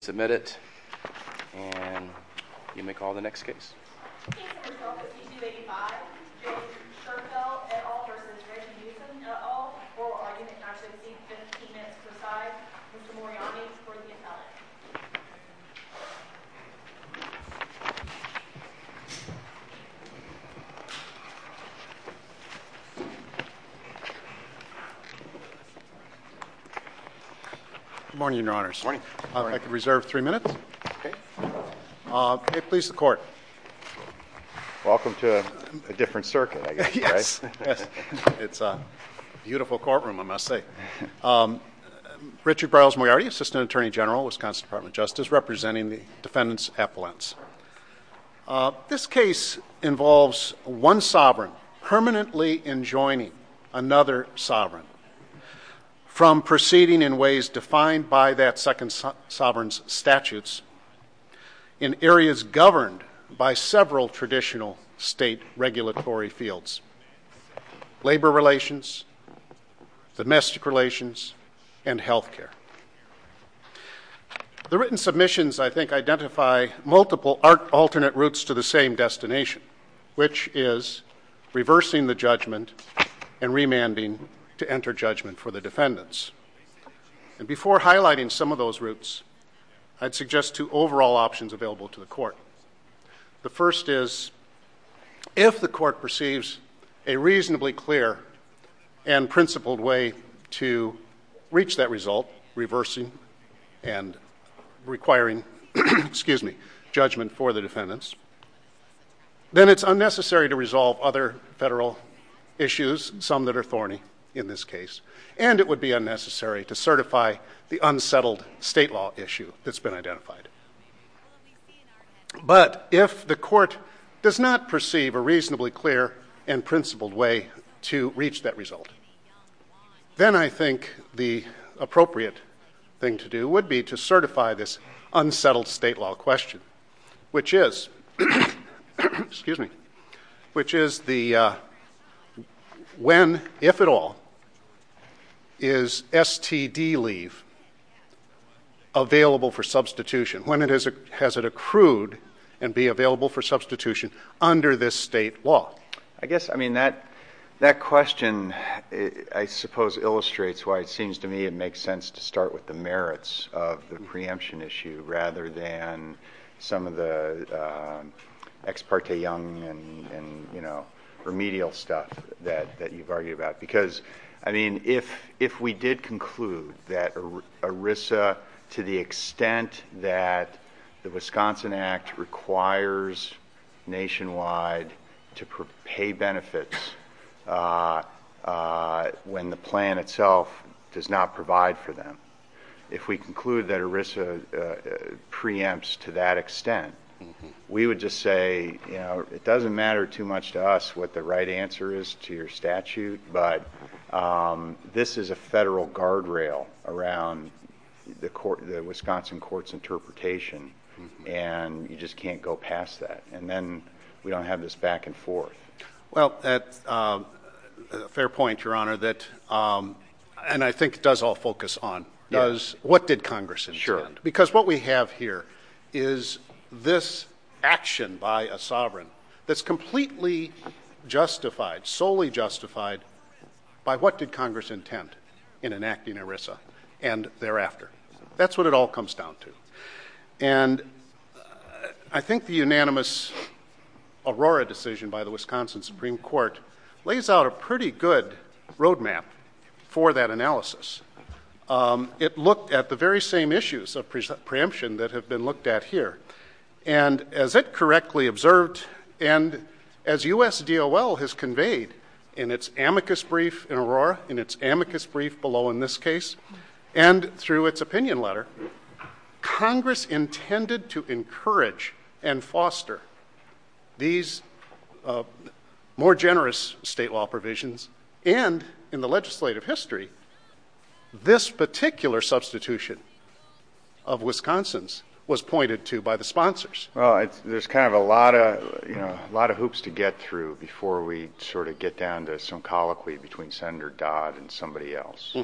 Submit it, and you may call the next case. Good morning, your honors. Morning. If I could reserve three minutes. Please, the court. Welcome to a different circuit, I guess, right? Yes. It's a beautiful courtroom, I must say. Richard Burles-Moyarty, Assistant Attorney General, Wisconsin Department of Justice, representing the defendants' appellants. This case involves one sovereign permanently enjoining another sovereign from proceeding in ways defined by that second sovereign's statutes in areas governed by several traditional state regulatory fields, labor relations, domestic relations, and health care. The written submissions, I think, identify multiple alternate routes to the same destination, which is reversing the judgment and remanding to enter judgment for the defendants. And before highlighting some of those routes, I'd suggest two overall options available to the court. The first is, if the court perceives a reasonably clear and principled way to reach that result, without reversing and requiring judgment for the defendants, then it's unnecessary to resolve other federal issues, some that are thorny in this case, and it would be unnecessary to certify the unsettled state law issue that's been identified. But if the court does not perceive a reasonably clear and principled way to reach that result, then I think the appropriate thing to do would be to certify this unsettled state law question, which is when, if at all, is STD leave available for substitution? When has it accrued and be available for substitution under this state law? I guess, I mean, that question, I suppose, illustrates why it seems to me it makes sense to start with the merits of the preemption issue rather than some of the ex parte young and remedial stuff that you've argued about. Because, I mean, if we did conclude that ERISA, to the extent that the Wisconsin Act requires nationwide to pay benefits when the plan itself does not provide for them, if we conclude that ERISA preempts to that extent, we would just say, you know, it doesn't matter too much to us what the right answer is to your statute, but this is a federal guardrail around the Wisconsin court's interpretation, and you just can't go past that, and then we don't have this back and forth. Well, that's a fair point, Your Honor, and I think it does all focus on what did Congress intend? Sure. Because what we have here is this action by a sovereign that's completely justified, solely justified by what did Congress intend in enacting ERISA and thereafter. That's what it all comes down to, and I think the unanimous Aurora decision by the Wisconsin Supreme Court lays out a pretty good roadmap for that analysis. It looked at the very same issues of preemption that have been looked at here, and as it correctly observed and as USDOL has conveyed in its amicus brief in Aurora, in its amicus brief below in this case, and through its opinion letter, Congress intended to encourage and foster these more generous state law provisions, and in the legislative history, this particular substitution of Wisconsin's was pointed to by the sponsors. Well, there's kind of a lot of hoops to get through before we sort of get down to some colloquy between Senator Dodd and somebody else.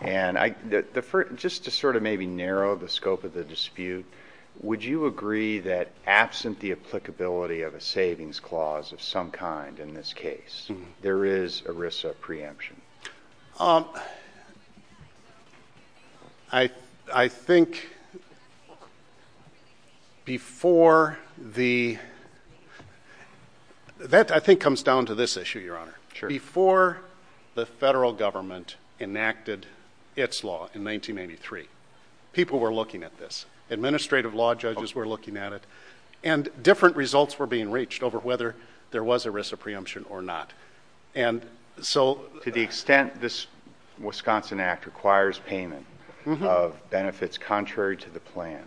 And just to sort of maybe narrow the scope of the dispute, would you agree that absent the applicability of a savings clause of some kind in this case, there is ERISA preemption? I think before the ‑‑ that, I think, comes down to this issue, Your Honor. Sure. Before the federal government enacted its law in 1983, people were looking at this. Administrative law judges were looking at it, and different results were being reached over whether there was ERISA preemption or not. To the extent this Wisconsin Act requires payment of benefits contrary to the plan,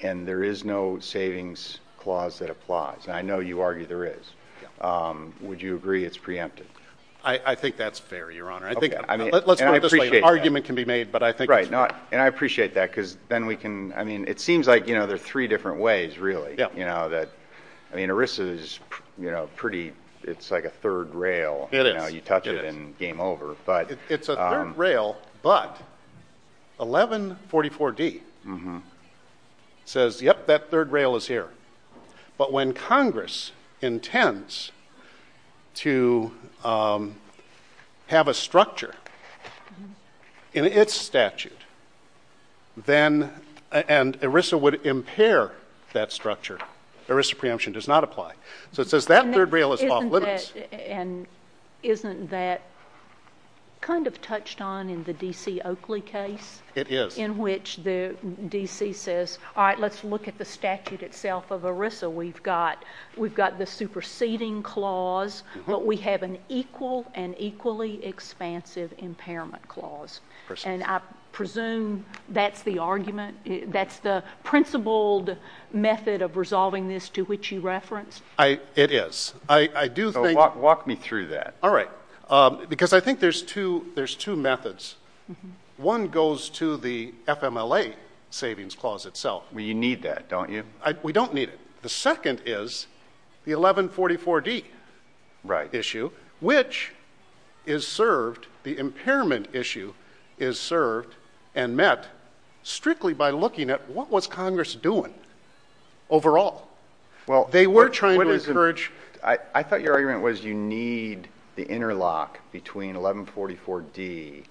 and there is no savings clause that applies, and I know you argue there is, would you agree it's preempted? I think that's fair, Your Honor. Let's put it this way, an argument can be made, but I think it's fair. Right, and I appreciate that, because then we can, I mean, it seems like there are three different ways, really. I mean, ERISA is pretty, it's like a third rail. It is. You touch it and game over. It's a third rail, but 1144D says, yep, that third rail is here. But when Congress intends to have a structure in its statute, then, and ERISA would impair that structure. ERISA preemption does not apply. So it says that third rail is off limits. And isn't that kind of touched on in the D.C. Oakley case? It is. In which the D.C. says, all right, let's look at the statute itself of ERISA. We've got the superseding clause, but we have an equal and equally expansive impairment clause. And I presume that's the argument, that's the principled method of resolving this to which you referenced? It is. Walk me through that. All right. Because I think there's two methods. One goes to the FMLA savings clause itself. You need that, don't you? We don't need it. The second is the 1144D issue, which is served, the impairment issue is served and met strictly by looking at what was Congress doing overall. I thought your argument was you need the interlock between 1144D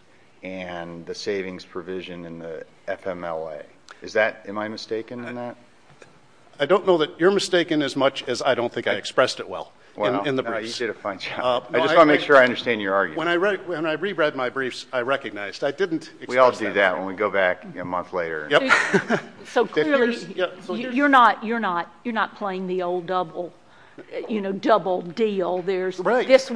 and the savings provision in the FMLA. Am I mistaken in that? I don't know that you're mistaken as much as I don't think I expressed it well in the briefs. I just want to make sure I understand your argument. When I reread my briefs, I recognized. We all do that when we go back a month later. So clearly you're not playing the old double deal. There's this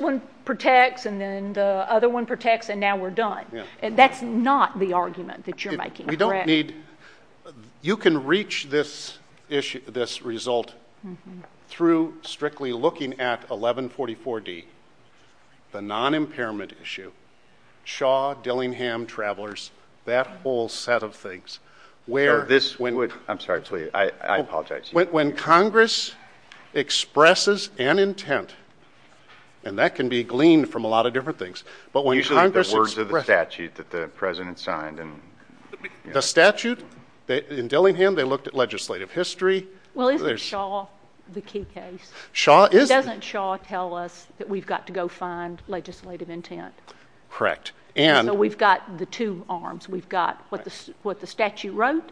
one protects and then the other one protects and now we're done. That's not the argument that you're making, correct? You can reach this result through strictly looking at 1144D, the non-impairment issue, Shaw, Dillingham, Travelers, that whole set of things. I'm sorry. I apologize. When Congress expresses an intent, and that can be gleaned from a lot of different things. Usually the words of the statute that the President signed. The statute. In Dillingham, they looked at legislative history. Well, isn't Shaw the key case? Doesn't Shaw tell us that we've got to go find legislative intent? Correct. So we've got the two arms. We've got what the statute wrote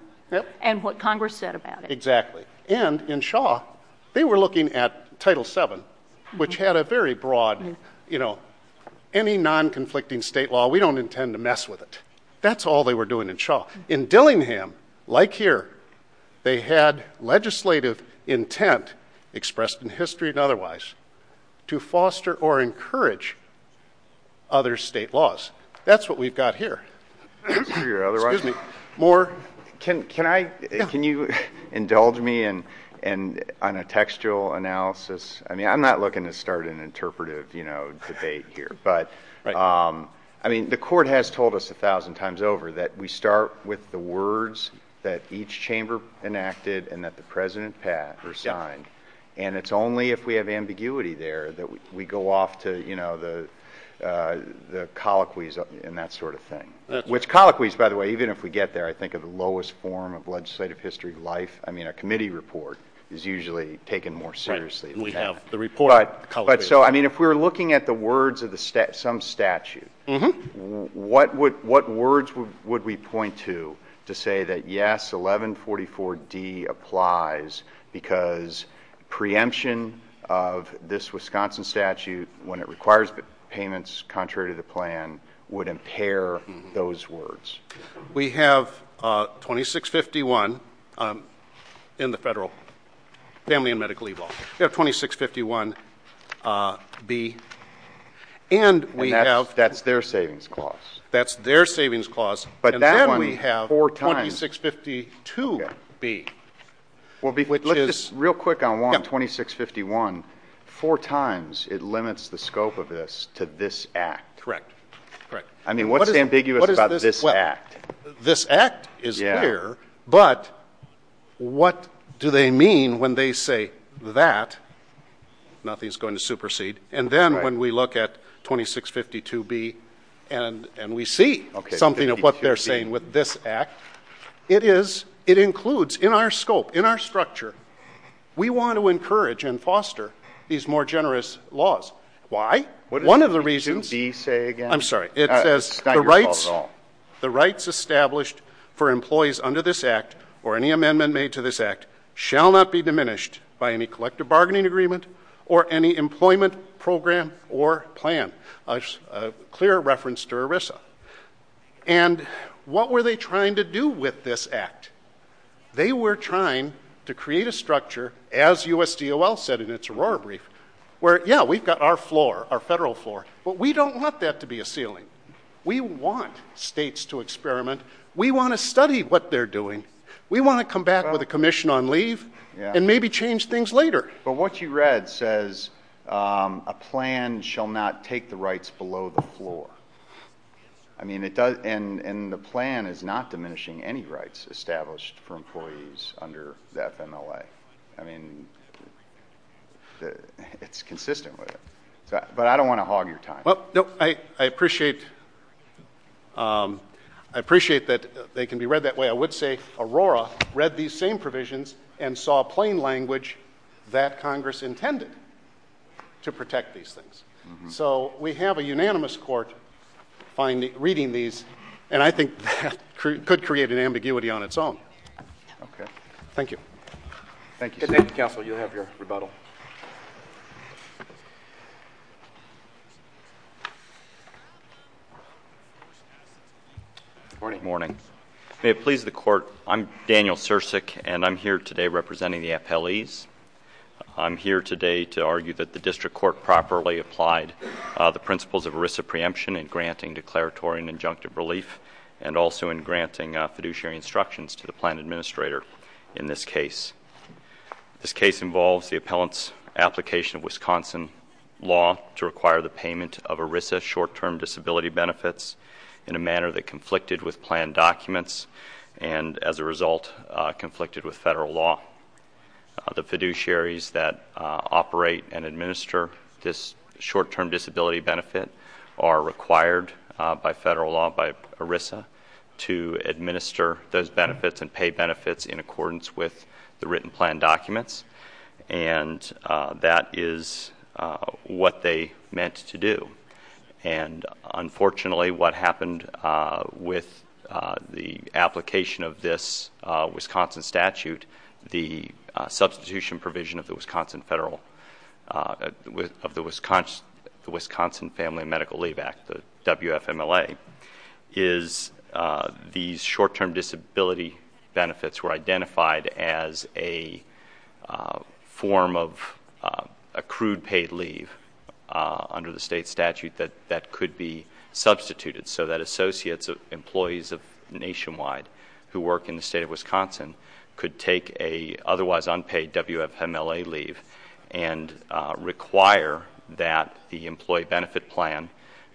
and what Congress said about it. Exactly. And in Shaw, they were looking at Title VII, which had a very broad, you know, any non-conflicting state law, we don't intend to mess with it. That's all they were doing in Shaw. In Dillingham, like here, they had legislative intent expressed in history and otherwise to foster or encourage other state laws. That's what we've got here. Excuse me. Can you indulge me on a textual analysis? I mean, I'm not looking to start an interpretive, you know, debate here. I mean, the court has told us a thousand times over that we start with the words that each chamber enacted and that the President signed. And it's only if we have ambiguity there that we go off to, you know, the colloquies and that sort of thing. Which colloquies, by the way, even if we get there, I think are the lowest form of legislative history of life. I mean, a committee report is usually taken more seriously than that. We have the report colloquies. But so, I mean, if we're looking at the words of some statute, what words would we point to to say that, yes, 1144D applies because preemption of this Wisconsin statute, when it requires payments contrary to the plan, would impair those words? We have 2651 in the federal family and medical leave law. We have 2651B. And that's their savings clause. That's their savings clause. And then we have 2652B. Real quick on 2651, four times it limits the scope of this to this act. Correct. I mean, what's ambiguous about this act? This act is here, but what do they mean when they say that? Nothing's going to supersede. And then when we look at 2652B and we see something of what they're saying with this act, it includes in our scope, in our structure, we want to encourage and foster these more generous laws. Why? What does 2652B say again? I'm sorry. It says the rights established for employees under this act or any amendment made to this act shall not be diminished by any collective bargaining agreement or any employment program or plan. A clear reference to ERISA. And what were they trying to do with this act? They were trying to create a structure, as USDOL said in its Aurora brief, where, yeah, we've got our floor, our federal floor, but we don't want that to be a ceiling. We want states to experiment. We want to study what they're doing. We want to come back with a commission on leave and maybe change things later. But what you read says a plan shall not take the rights below the floor. And the plan is not diminishing any rights established for employees under the FMLA. I mean, it's consistent with it. But I don't want to hog your time. I appreciate that they can be read that way. I would say Aurora read these same provisions and saw plain language that Congress intended to protect these things. So we have a unanimous court reading these, and I think that could create an ambiguity on its own. Okay. Thank you. Thank you, sir. Counsel, you have your rebuttal. Good morning. May it please the Court, I'm Daniel Sirsik, and I'm here today representing the appellees. I'm here today to argue that the district court properly applied the principles of ERISA preemption in granting declaratory and injunctive relief and also in granting fiduciary instructions to the plan administrator in this case. This case involves the appellant's application of Wisconsin law to require the payment of ERISA short-term disability benefits in a manner that conflicted with plan documents and, as a result, conflicted with federal law. The fiduciaries that operate and administer this short-term disability benefit are required by federal law, by ERISA, to administer those benefits and pay benefits in accordance with the written plan documents, and that is what they meant to do. Unfortunately, what happened with the application of this Wisconsin statute, the substitution provision of the Wisconsin Family and Medical Leave Act, the WFMLA, is these short-term disability benefits were identified as a form of accrued paid leave under the state statute that could be substituted so that associates of employees nationwide who work in the state of Wisconsin could take an otherwise unpaid WFMLA leave and require that the employee benefit plan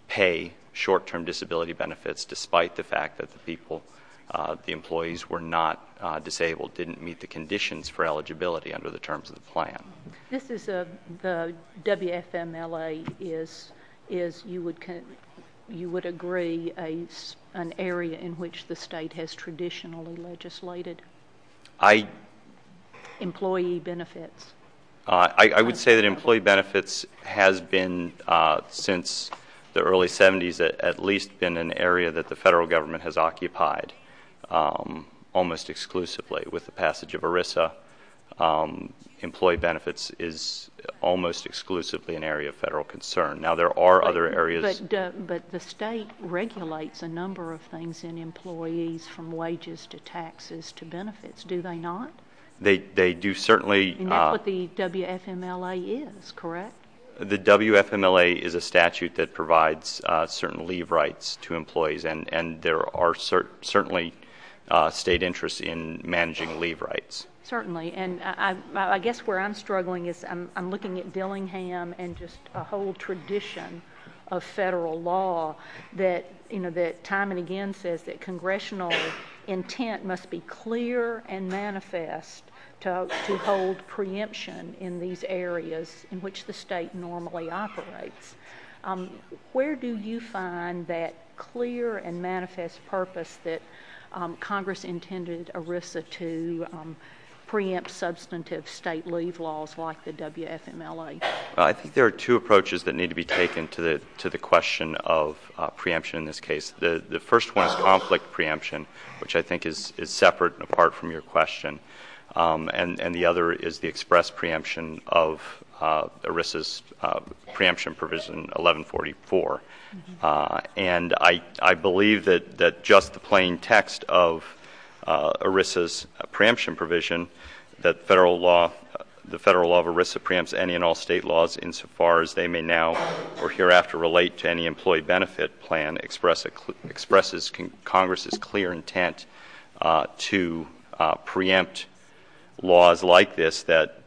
pay short-term disability benefits, despite the fact that the employees were not disabled, didn't meet the conditions for eligibility under the terms of the plan. The WFMLA is, you would agree, an area in which the state has traditionally legislated employee benefits? I would say that employee benefits has been, since the early 70s, at least been an area that the federal government has occupied almost exclusively. With the passage of ERISA, employee benefits is almost exclusively an area of federal concern. Now, there are other areas. But the state regulates a number of things in employees, from wages to taxes to benefits, do they not? They do, certainly. And that's what the WFMLA is, correct? The WFMLA is a statute that provides certain leave rights to employees, and there are certainly state interests in managing leave rights. Certainly. And I guess where I'm struggling is I'm looking at Dillingham and just a whole tradition of federal law that, you know, that time and again says that congressional intent must be clear and manifest to hold preemption in these areas in which the state normally operates. Where do you find that clear and manifest purpose that Congress intended ERISA to preempt substantive state leave laws like the WFMLA? I think there are two approaches that need to be taken to the question of preemption in this case. The first one is conflict preemption, which I think is separate and apart from your question. And the other is the express preemption of ERISA's preemption provision 1144. And I believe that just the plain text of ERISA's preemption provision, the federal law of ERISA preempts any and all state laws insofar as they may now or hereafter relate to any employee benefit plan expresses Congress's clear intent to preempt laws like this that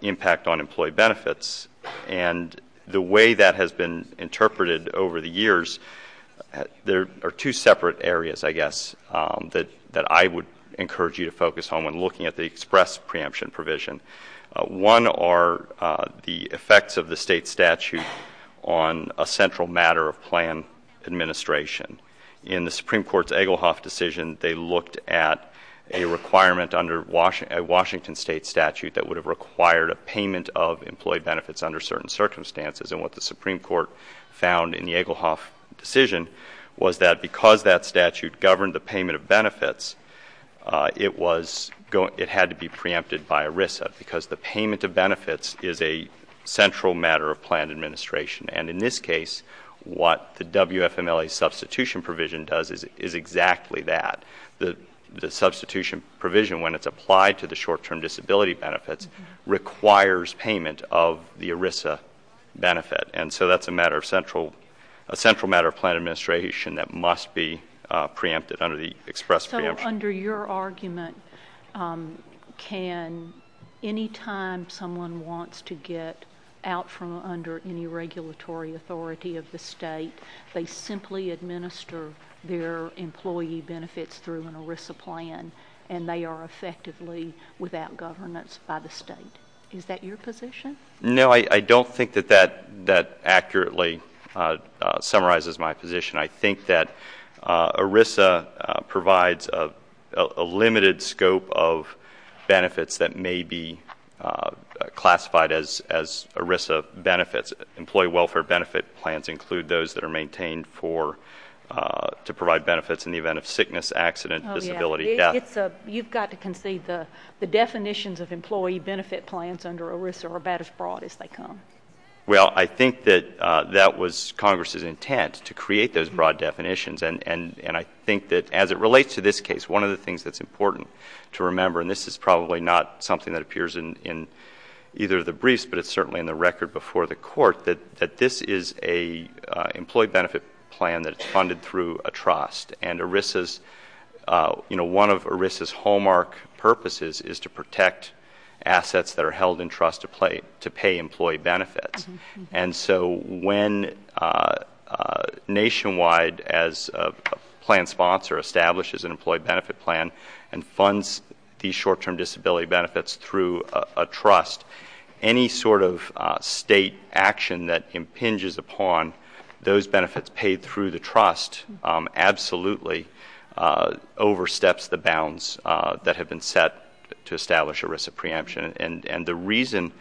impact on employee benefits. And the way that has been interpreted over the years, there are two separate areas, I guess, that I would encourage you to focus on when looking at the express preemption provision. One are the effects of the state statute on a central matter of plan administration. In the Supreme Court's Egelhoff decision, they looked at a requirement under a Washington state statute that would have required a payment of employee benefits under certain circumstances. And what the Supreme Court found in the Egelhoff decision was that because that statute governed the payment of benefits, it had to be preempted by ERISA because the payment of benefits is a central matter of plan administration. And in this case, what the WFMLA substitution provision does is exactly that. The substitution provision, when it's applied to the short-term disability benefits, requires payment of the ERISA benefit. And so that's a central matter of plan administration that must be preempted under the express preemption. So under your argument, can any time someone wants to get out from under any regulatory authority of the state, they simply administer their employee benefits through an ERISA plan and they are effectively without governance by the state? Is that your position? No, I don't think that that accurately summarizes my position. I think that ERISA provides a limited scope of benefits that may be classified as ERISA benefits. Employee welfare benefit plans include those that are maintained to provide benefits in the event of sickness, accident, disability, death. Oh, yeah. You've got to concede the definitions of employee benefit plans under ERISA are about as broad as they come. Well, I think that that was Congress's intent, to create those broad definitions. And I think that as it relates to this case, one of the things that's important to remember, and this is probably not something that appears in either of the briefs, but it's certainly in the record before the court, that this is an employee benefit plan that's funded through a trust. And ERISA's, you know, one of ERISA's hallmark purposes is to protect assets that are held in trust to pay employee benefits. And so when Nationwide, as a plan sponsor, establishes an employee benefit plan and funds these short-term disability benefits through a trust, any sort of state action that impinges upon those benefits paid through the trust absolutely oversteps the bounds that have been set to establish ERISA preemption. And the reason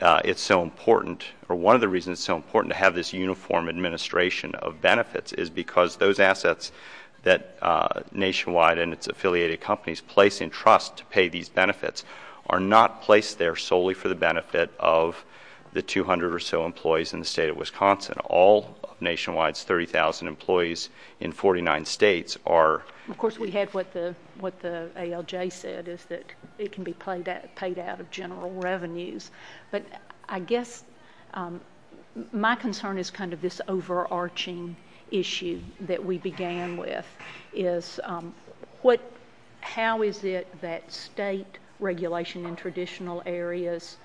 it's so important, or one of the reasons it's so important to have this uniform administration of benefits, is because those assets that Nationwide and its affiliated companies place in trust to pay these benefits are not placed there solely for the benefit of the 200 or so employees in the state of Wisconsin. All of Nationwide's 30,000 employees in 49 states are— But I guess my concern is kind of this overarching issue that we began with, is how is it that state regulation in traditional areas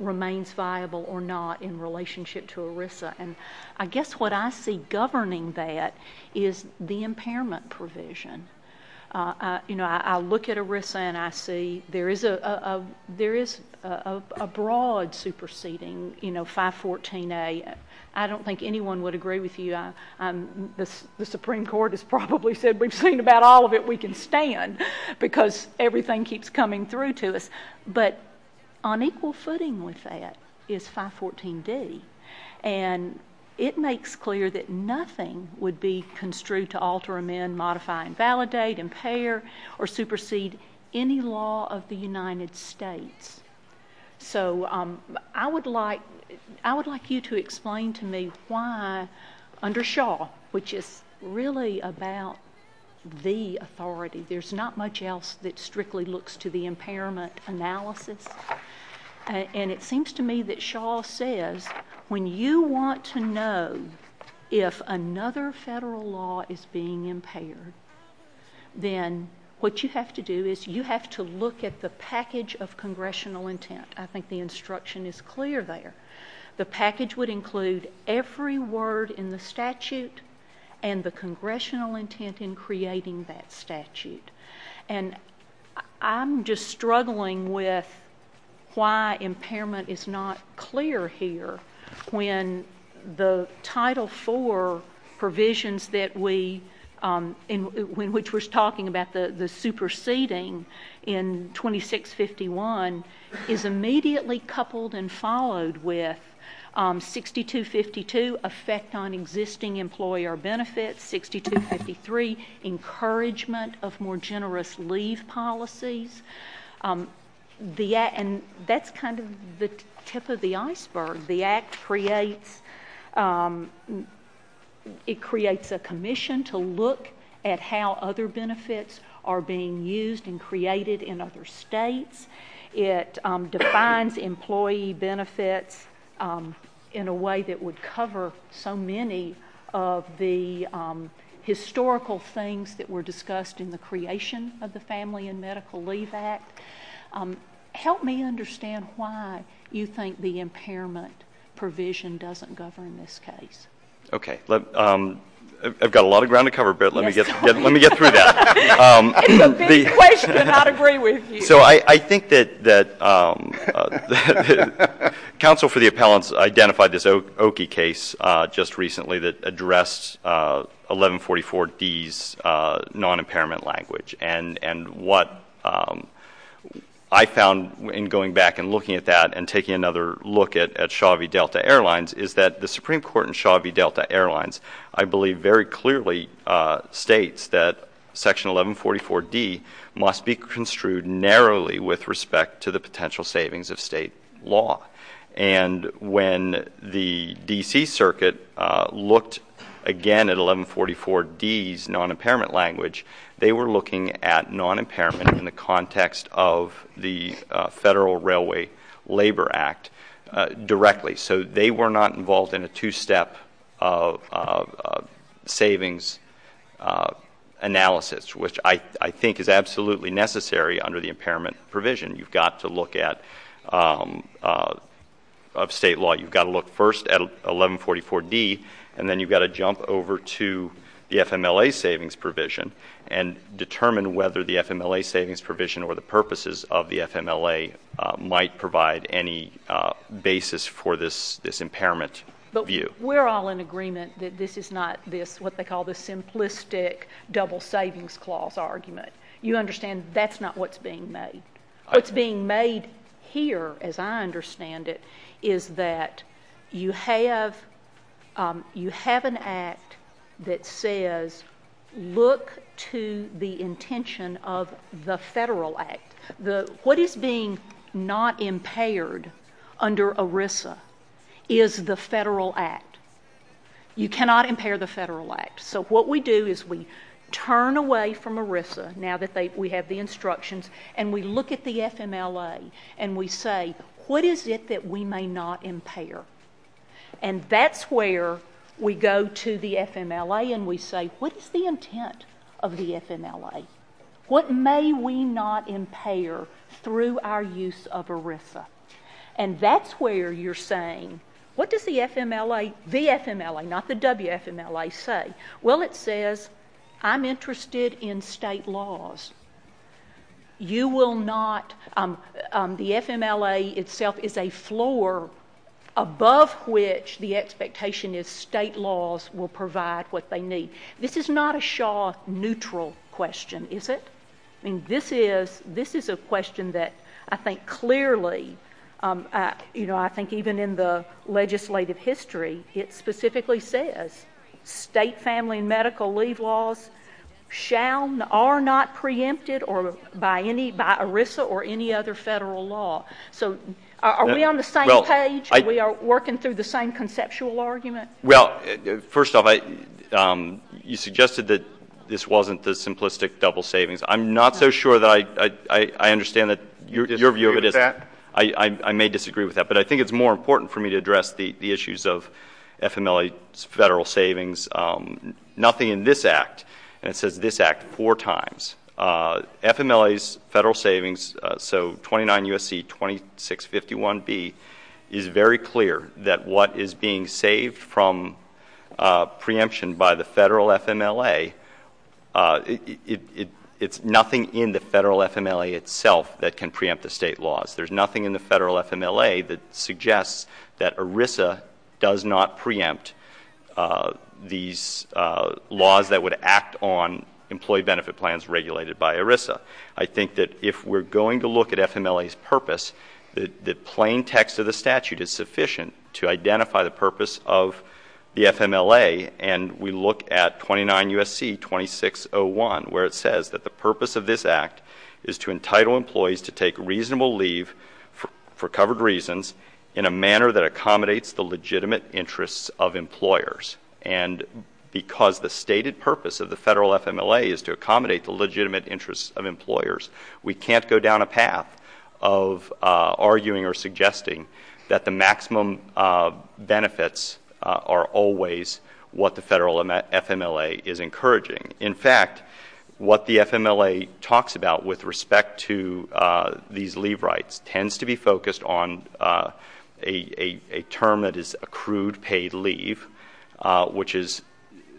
remains viable or not in relationship to ERISA? And I guess what I see governing that is the impairment provision. I look at ERISA and I see there is a broad superseding 514A. I don't think anyone would agree with you. The Supreme Court has probably said we've seen about all of it. We can stand because everything keeps coming through to us. But on equal footing with that is 514D. And it makes clear that nothing would be construed to alter, amend, modify, invalidate, impair, or supersede any law of the United States. So I would like you to explain to me why, under Shaw, which is really about the authority. There's not much else that strictly looks to the impairment analysis. And it seems to me that Shaw says when you want to know if another federal law is being impaired, then what you have to do is you have to look at the package of congressional intent. I think the instruction is clear there. The package would include every word in the statute and the congressional intent in creating that statute. And I'm just struggling with why impairment is not clear here when the Title IV provisions which we're talking about, the superseding in 2651, is immediately coupled and followed with 6252, effect on existing employer benefits, 6253, encouragement of more generous leave policies. And that's kind of the tip of the iceberg. The Act creates a commission to look at how other benefits are being used and created in other states. It defines employee benefits in a way that would cover so many of the historical things that were discussed in the creation of the Family and Medical Leave Act. Help me understand why you think the impairment provision doesn't govern this case. Okay. I've got a lot of ground to cover, but let me get through that. It's a big question. I'd agree with you. So I think that counsel for the appellants identified this Oki case just recently that addressed 1144D's non-impairment language. And what I found in going back and looking at that and taking another look at Shaw v. Delta Airlines is that the Supreme Court in Shaw v. Delta Airlines, I believe, very clearly states that Section 1144D must be construed narrowly with respect to the potential savings of state law. And when the D.C. Circuit looked again at 1144D's non-impairment language, they were looking at non-impairment in the context of the Federal Railway Labor Act directly. So they were not involved in a two-step savings analysis, which I think is absolutely necessary under the impairment provision. You've got to look at state law. You've got to look first at 1144D, and then you've got to jump over to the FMLA savings provision and determine whether the FMLA savings provision or the purposes of the FMLA might provide any basis for this impairment view. But we're all in agreement that this is not what they call the simplistic double savings clause argument. You understand that's not what's being made. What's being made here, as I understand it, is that you have an act that says look to the intention of the Federal Act. What is being not impaired under ERISA is the Federal Act. You cannot impair the Federal Act. So what we do is we turn away from ERISA, now that we have the instructions, and we look at the FMLA and we say, what is it that we may not impair? And that's where we go to the FMLA and we say, what is the intent of the FMLA? What may we not impair through our use of ERISA? And that's where you're saying, what does the FMLA, the FMLA, not the WFMLA, say? Well, it says I'm interested in state laws. You will not, the FMLA itself is a floor above which the expectation is state laws will provide what they need. This is not a Shaw neutral question, is it? This is a question that I think clearly, you know, I think even in the legislative history, it specifically says state family medical leave laws are not preempted by ERISA or any other Federal law. So are we on the same page? Are we working through the same conceptual argument? Well, first off, you suggested that this wasn't the simplistic double savings. I'm not so sure that I understand that your view of it is. You disagree with that? I may disagree with that. But I think it's more important for me to address the issues of FMLA's Federal savings. Nothing in this Act, and it says this Act four times, FMLA's Federal savings, so 29 U.S.C. 2651B, is very clear that what is being saved from preemption by the Federal FMLA, it's nothing in the Federal FMLA itself that can preempt the state laws. There's nothing in the Federal FMLA that suggests that ERISA does not preempt these laws that would act on employee benefit plans regulated by ERISA. I think that if we're going to look at FMLA's purpose, the plain text of the statute is sufficient to identify the purpose of the FMLA. And we look at 29 U.S.C. 2601, where it says that the purpose of this Act is to entitle employees to take reasonable leave for covered reasons in a manner that accommodates the legitimate interests of employers. And because the stated purpose of the Federal FMLA is to accommodate the legitimate interests of employers, we can't go down a path of arguing or suggesting that the maximum benefits are always what the Federal FMLA is encouraging. In fact, what the FMLA talks about with respect to these leave rights tends to be focused on a term that is accrued paid leave, which is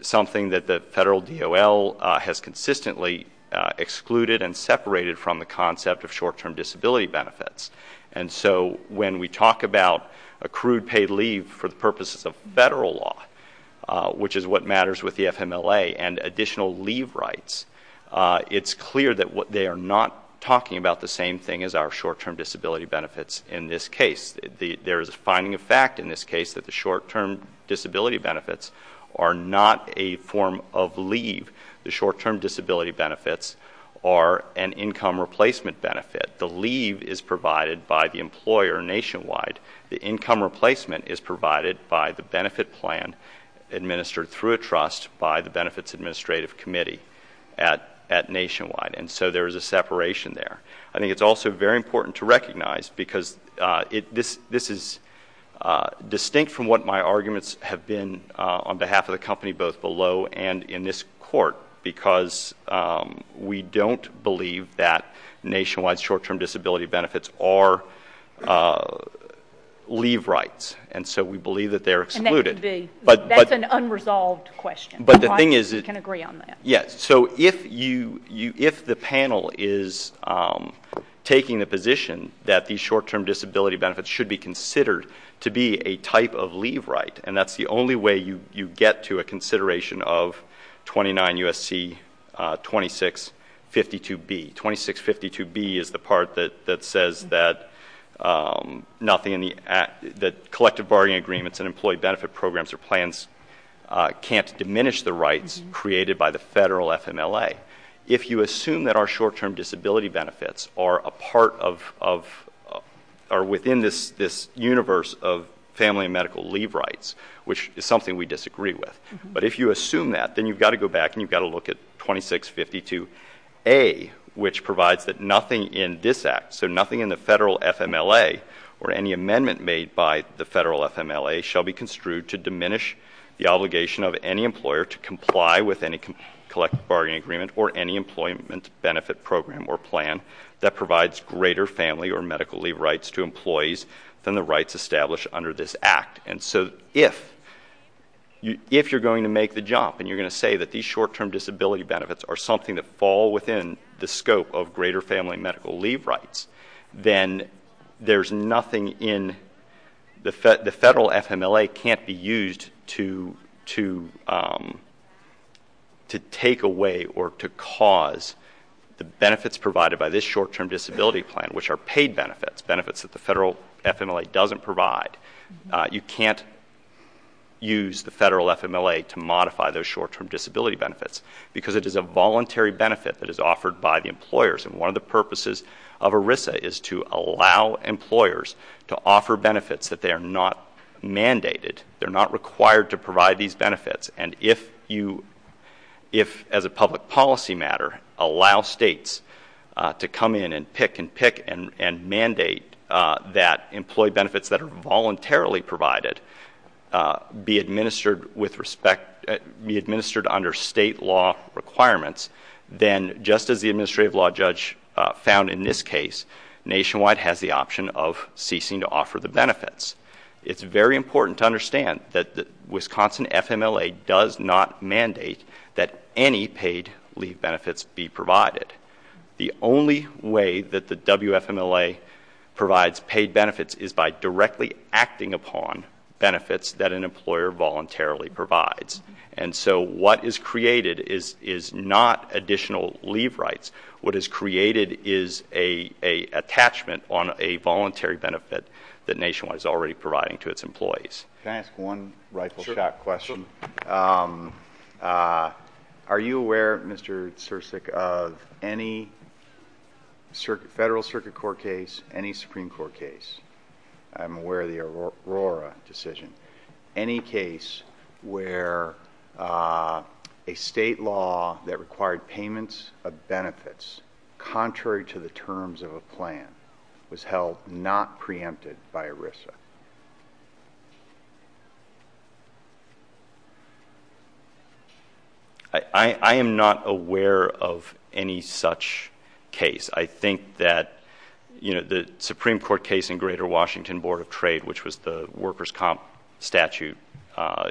something that the Federal DOL has consistently excluded and separated from the concept of short-term disability benefits. And so when we talk about accrued paid leave for the purposes of Federal law, which is what matters with the FMLA, and additional leave rights, it's clear that they are not talking about the same thing as our short-term disability benefits in this case. There is a finding of fact in this case that the short-term disability benefits are not a form of leave. The short-term disability benefits are an income replacement benefit. The leave is provided by the employer nationwide. The income replacement is provided by the benefit plan administered through a trust by the Benefits Administrative Committee at Nationwide. And so there is a separation there. I think it's also very important to recognize, because this is distinct from what my arguments have been on behalf of the company, both below and in this court, because we don't believe that Nationwide's short-term disability benefits are leave rights. And so we believe that they're excluded. And that's an unresolved question. But the thing is that— I can agree on that. Yes. So if the panel is taking the position that these short-term disability benefits should be considered to be a type of leave right, and that's the only way you get to a consideration of 29 U.S.C. 2652B. 2652B is the part that says that collective bargaining agreements and employee benefit programs or plans can't diminish the rights created by the federal FMLA. If you assume that our short-term disability benefits are within this universe of family and medical leave rights, which is something we disagree with, but if you assume that, then you've got to go back and you've got to look at 2652A, which provides that nothing in this Act, so nothing in the federal FMLA or any amendment made by the federal FMLA, shall be construed to diminish the obligation of any employer to comply with any collective bargaining agreement or any employment benefit program or plan that provides greater family or medical leave rights to employees than the rights established under this Act. And so if you're going to make the jump and you're going to say that these short-term disability benefits are something that fall within the scope of greater family and medical leave rights, then there's nothing in the federal FMLA can't be used to take away or to cause the benefits provided by this short-term disability plan, which are paid benefits, benefits that the federal FMLA doesn't provide. You can't use the federal FMLA to modify those short-term disability benefits because it is a voluntary benefit that is offered by the employers. And one of the purposes of ERISA is to allow employers to offer benefits that they are not mandated. They're not required to provide these benefits. And if you, as a public policy matter, allow states to come in and pick and pick and mandate that employee benefits that are voluntarily provided be administered with respect, be administered under state law requirements, then just as the administrative law judge found in this case, Nationwide has the option of ceasing to offer the benefits. It's very important to understand that the Wisconsin FMLA does not mandate that any paid leave benefits be provided. The only way that the WFMLA provides paid benefits is by directly acting upon benefits that an employer voluntarily provides. And so what is created is not additional leave rights. What is created is an attachment on a voluntary benefit that Nationwide is already providing to its employees. Can I ask one rifle shot question? Sure. Are you aware, Mr. Cirsic, of any federal circuit court case, any Supreme Court case? I'm aware of the Aurora decision. Any case where a state law that required payments of benefits contrary to the terms of a plan was held not preempted by ERISA? I am not aware of any such case. I think that the Supreme Court case in Greater Washington Board of Trade, which was the workers' comp statute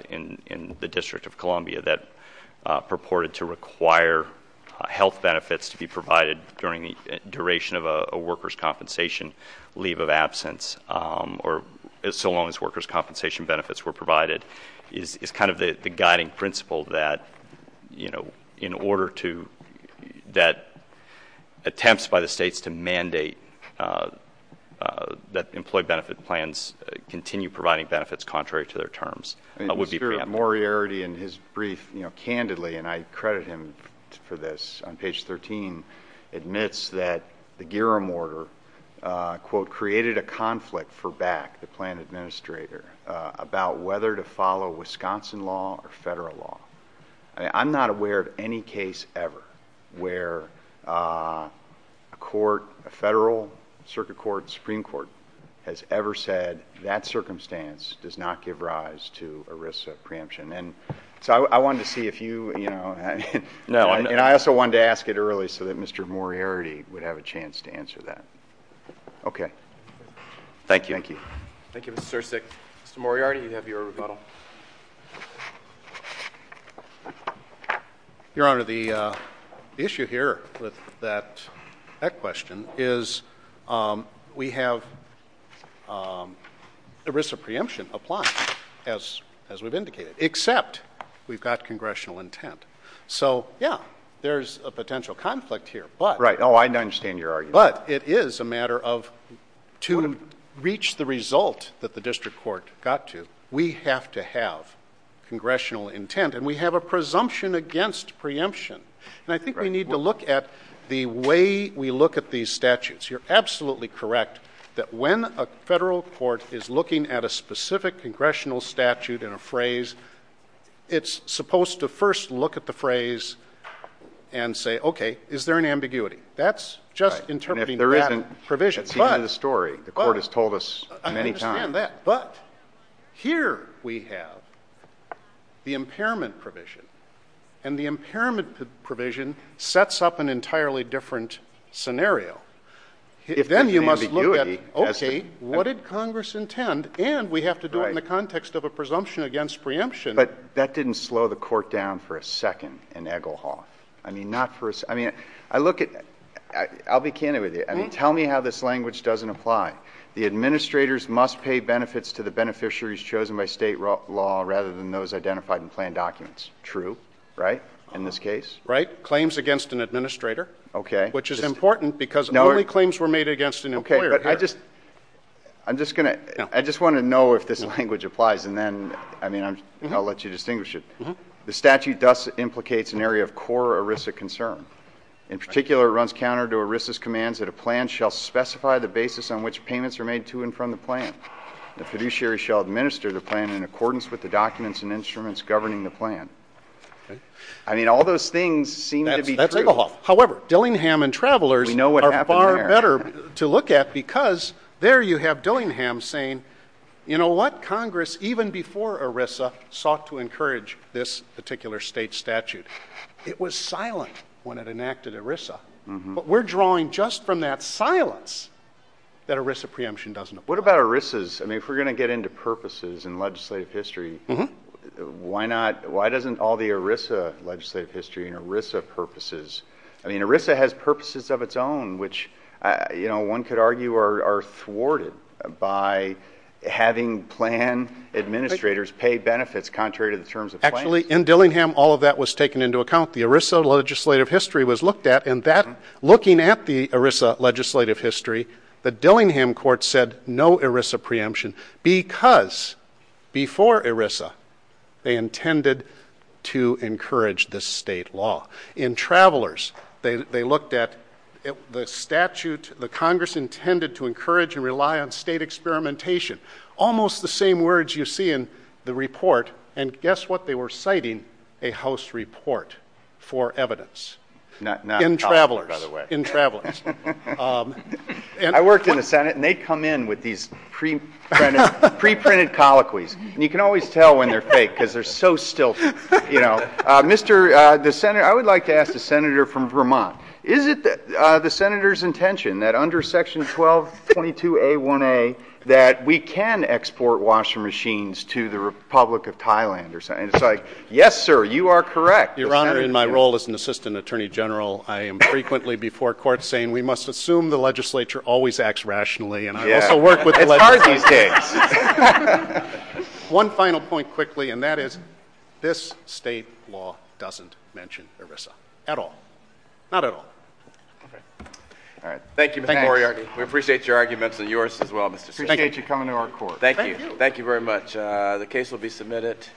in the District of Columbia that purported to require health benefits to be provided during the duration of a workers' compensation leave of absence, or so long as workers' compensation benefits were provided, is kind of the guiding principle that attempts by the states to mandate that employee benefit plans continue providing benefits contrary to their terms would be preempted. Mr. Moriarity, in his brief, candidly, and I credit him for this, on page 13, admits that the Giram order, quote, created a conflict for BAC, the plan administrator, about whether to follow Wisconsin law or federal law. I'm not aware of any case ever where a court, a federal circuit court, Supreme Court, has ever said that circumstance does not give rise to ERISA preemption. And so I wanted to see if you, you know, and I also wanted to ask it early so that Mr. Moriarity would have a chance to answer that. Okay. Thank you. Thank you. Thank you, Mr. Sursik. Mr. Moriarity, you have your rebuttal. Your Honor, the issue here with that question is we have ERISA preemption applied, as we've indicated, except we've got congressional intent. So, yeah, there's a potential conflict here. Right. Oh, I understand your argument. But it is a matter of to reach the result that the district court got to, we have to have congressional intent. And we have a presumption against preemption. And I think we need to look at the way we look at these statutes. You're absolutely correct that when a federal court is looking at a specific congressional statute in a phrase, it's supposed to first look at the phrase and say, okay, is there an ambiguity? That's just interpreting that provision. Right. And if there isn't, that's the end of the story. The court has told us many times. I understand that. But here we have the impairment provision. And the impairment provision sets up an entirely different scenario. Then you must look at, okay, what did Congress intend? And we have to do it in the context of a presumption against preemption. But that didn't slow the court down for a second in Egelhoff. I mean, not for a second. I mean, I look at ‑‑ I'll be candid with you. Tell me how this language doesn't apply. The administrators must pay benefits to the beneficiaries chosen by state law rather than those identified in planned documents. True, right, in this case? Right. Claims against an administrator. Okay. Which is important because only claims were made against an employer. Okay. But I just ‑‑ I'm just going to ‑‑ I just want to know if this language applies. And then, I mean, I'll let you distinguish it. The statute thus implicates an area of core ERISA concern. In particular, it runs counter to ERISA's commands that a plan shall specify the basis on which payments are made to and from the plan. The fiduciary shall administer the plan in accordance with the documents and instruments governing the plan. Okay. I mean, all those things seem to be true. That's Egelhoff. However, Dillingham and Travelers are far better to look at because there you have Dillingham saying, you know what? Congress, even before ERISA, sought to encourage this particular state statute. It was silent when it enacted ERISA. But we're drawing just from that silence that ERISA preemption doesn't apply. What about ERISA's? I mean, if we're going to get into purposes in legislative history, why not ‑‑ why doesn't all the ERISA legislative history and ERISA purposes, I mean, ERISA has purposes of its own, which, you know, one could argue are thwarted by having plan administrators pay benefits contrary to the terms of the plan. Actually, in Dillingham, all of that was taken into account. The ERISA legislative history was looked at, and that, looking at the ERISA legislative history, the Dillingham court said no ERISA preemption because, before ERISA, they intended to encourage this state law. In Travelers, they looked at the statute the Congress intended to encourage and rely on state experimentation. Almost the same words you see in the report, and guess what? They were citing a House report for evidence. In Travelers. In Travelers. I worked in the Senate, and they'd come in with these preprinted colloquies, and you can always tell when they're fake because they're so stilted. I would like to ask the senator from Vermont. Is it the senator's intention that under section 1222A1A that we can export washing machines to the Republic of Thailand? And it's like, yes, sir, you are correct. Your Honor, in my role as an assistant attorney general, I am frequently before court saying we must assume the legislature always acts rationally, and I also work with the legislature. It's hard these days. One final point quickly, and that is this state law doesn't mention ERISA. At all. Not at all. All right. Thank you, Mr. Moriarty. We appreciate your arguments, and yours as well, Mr. Smith. Appreciate you coming to our court. Thank you. Thank you very much. The case will be submitted.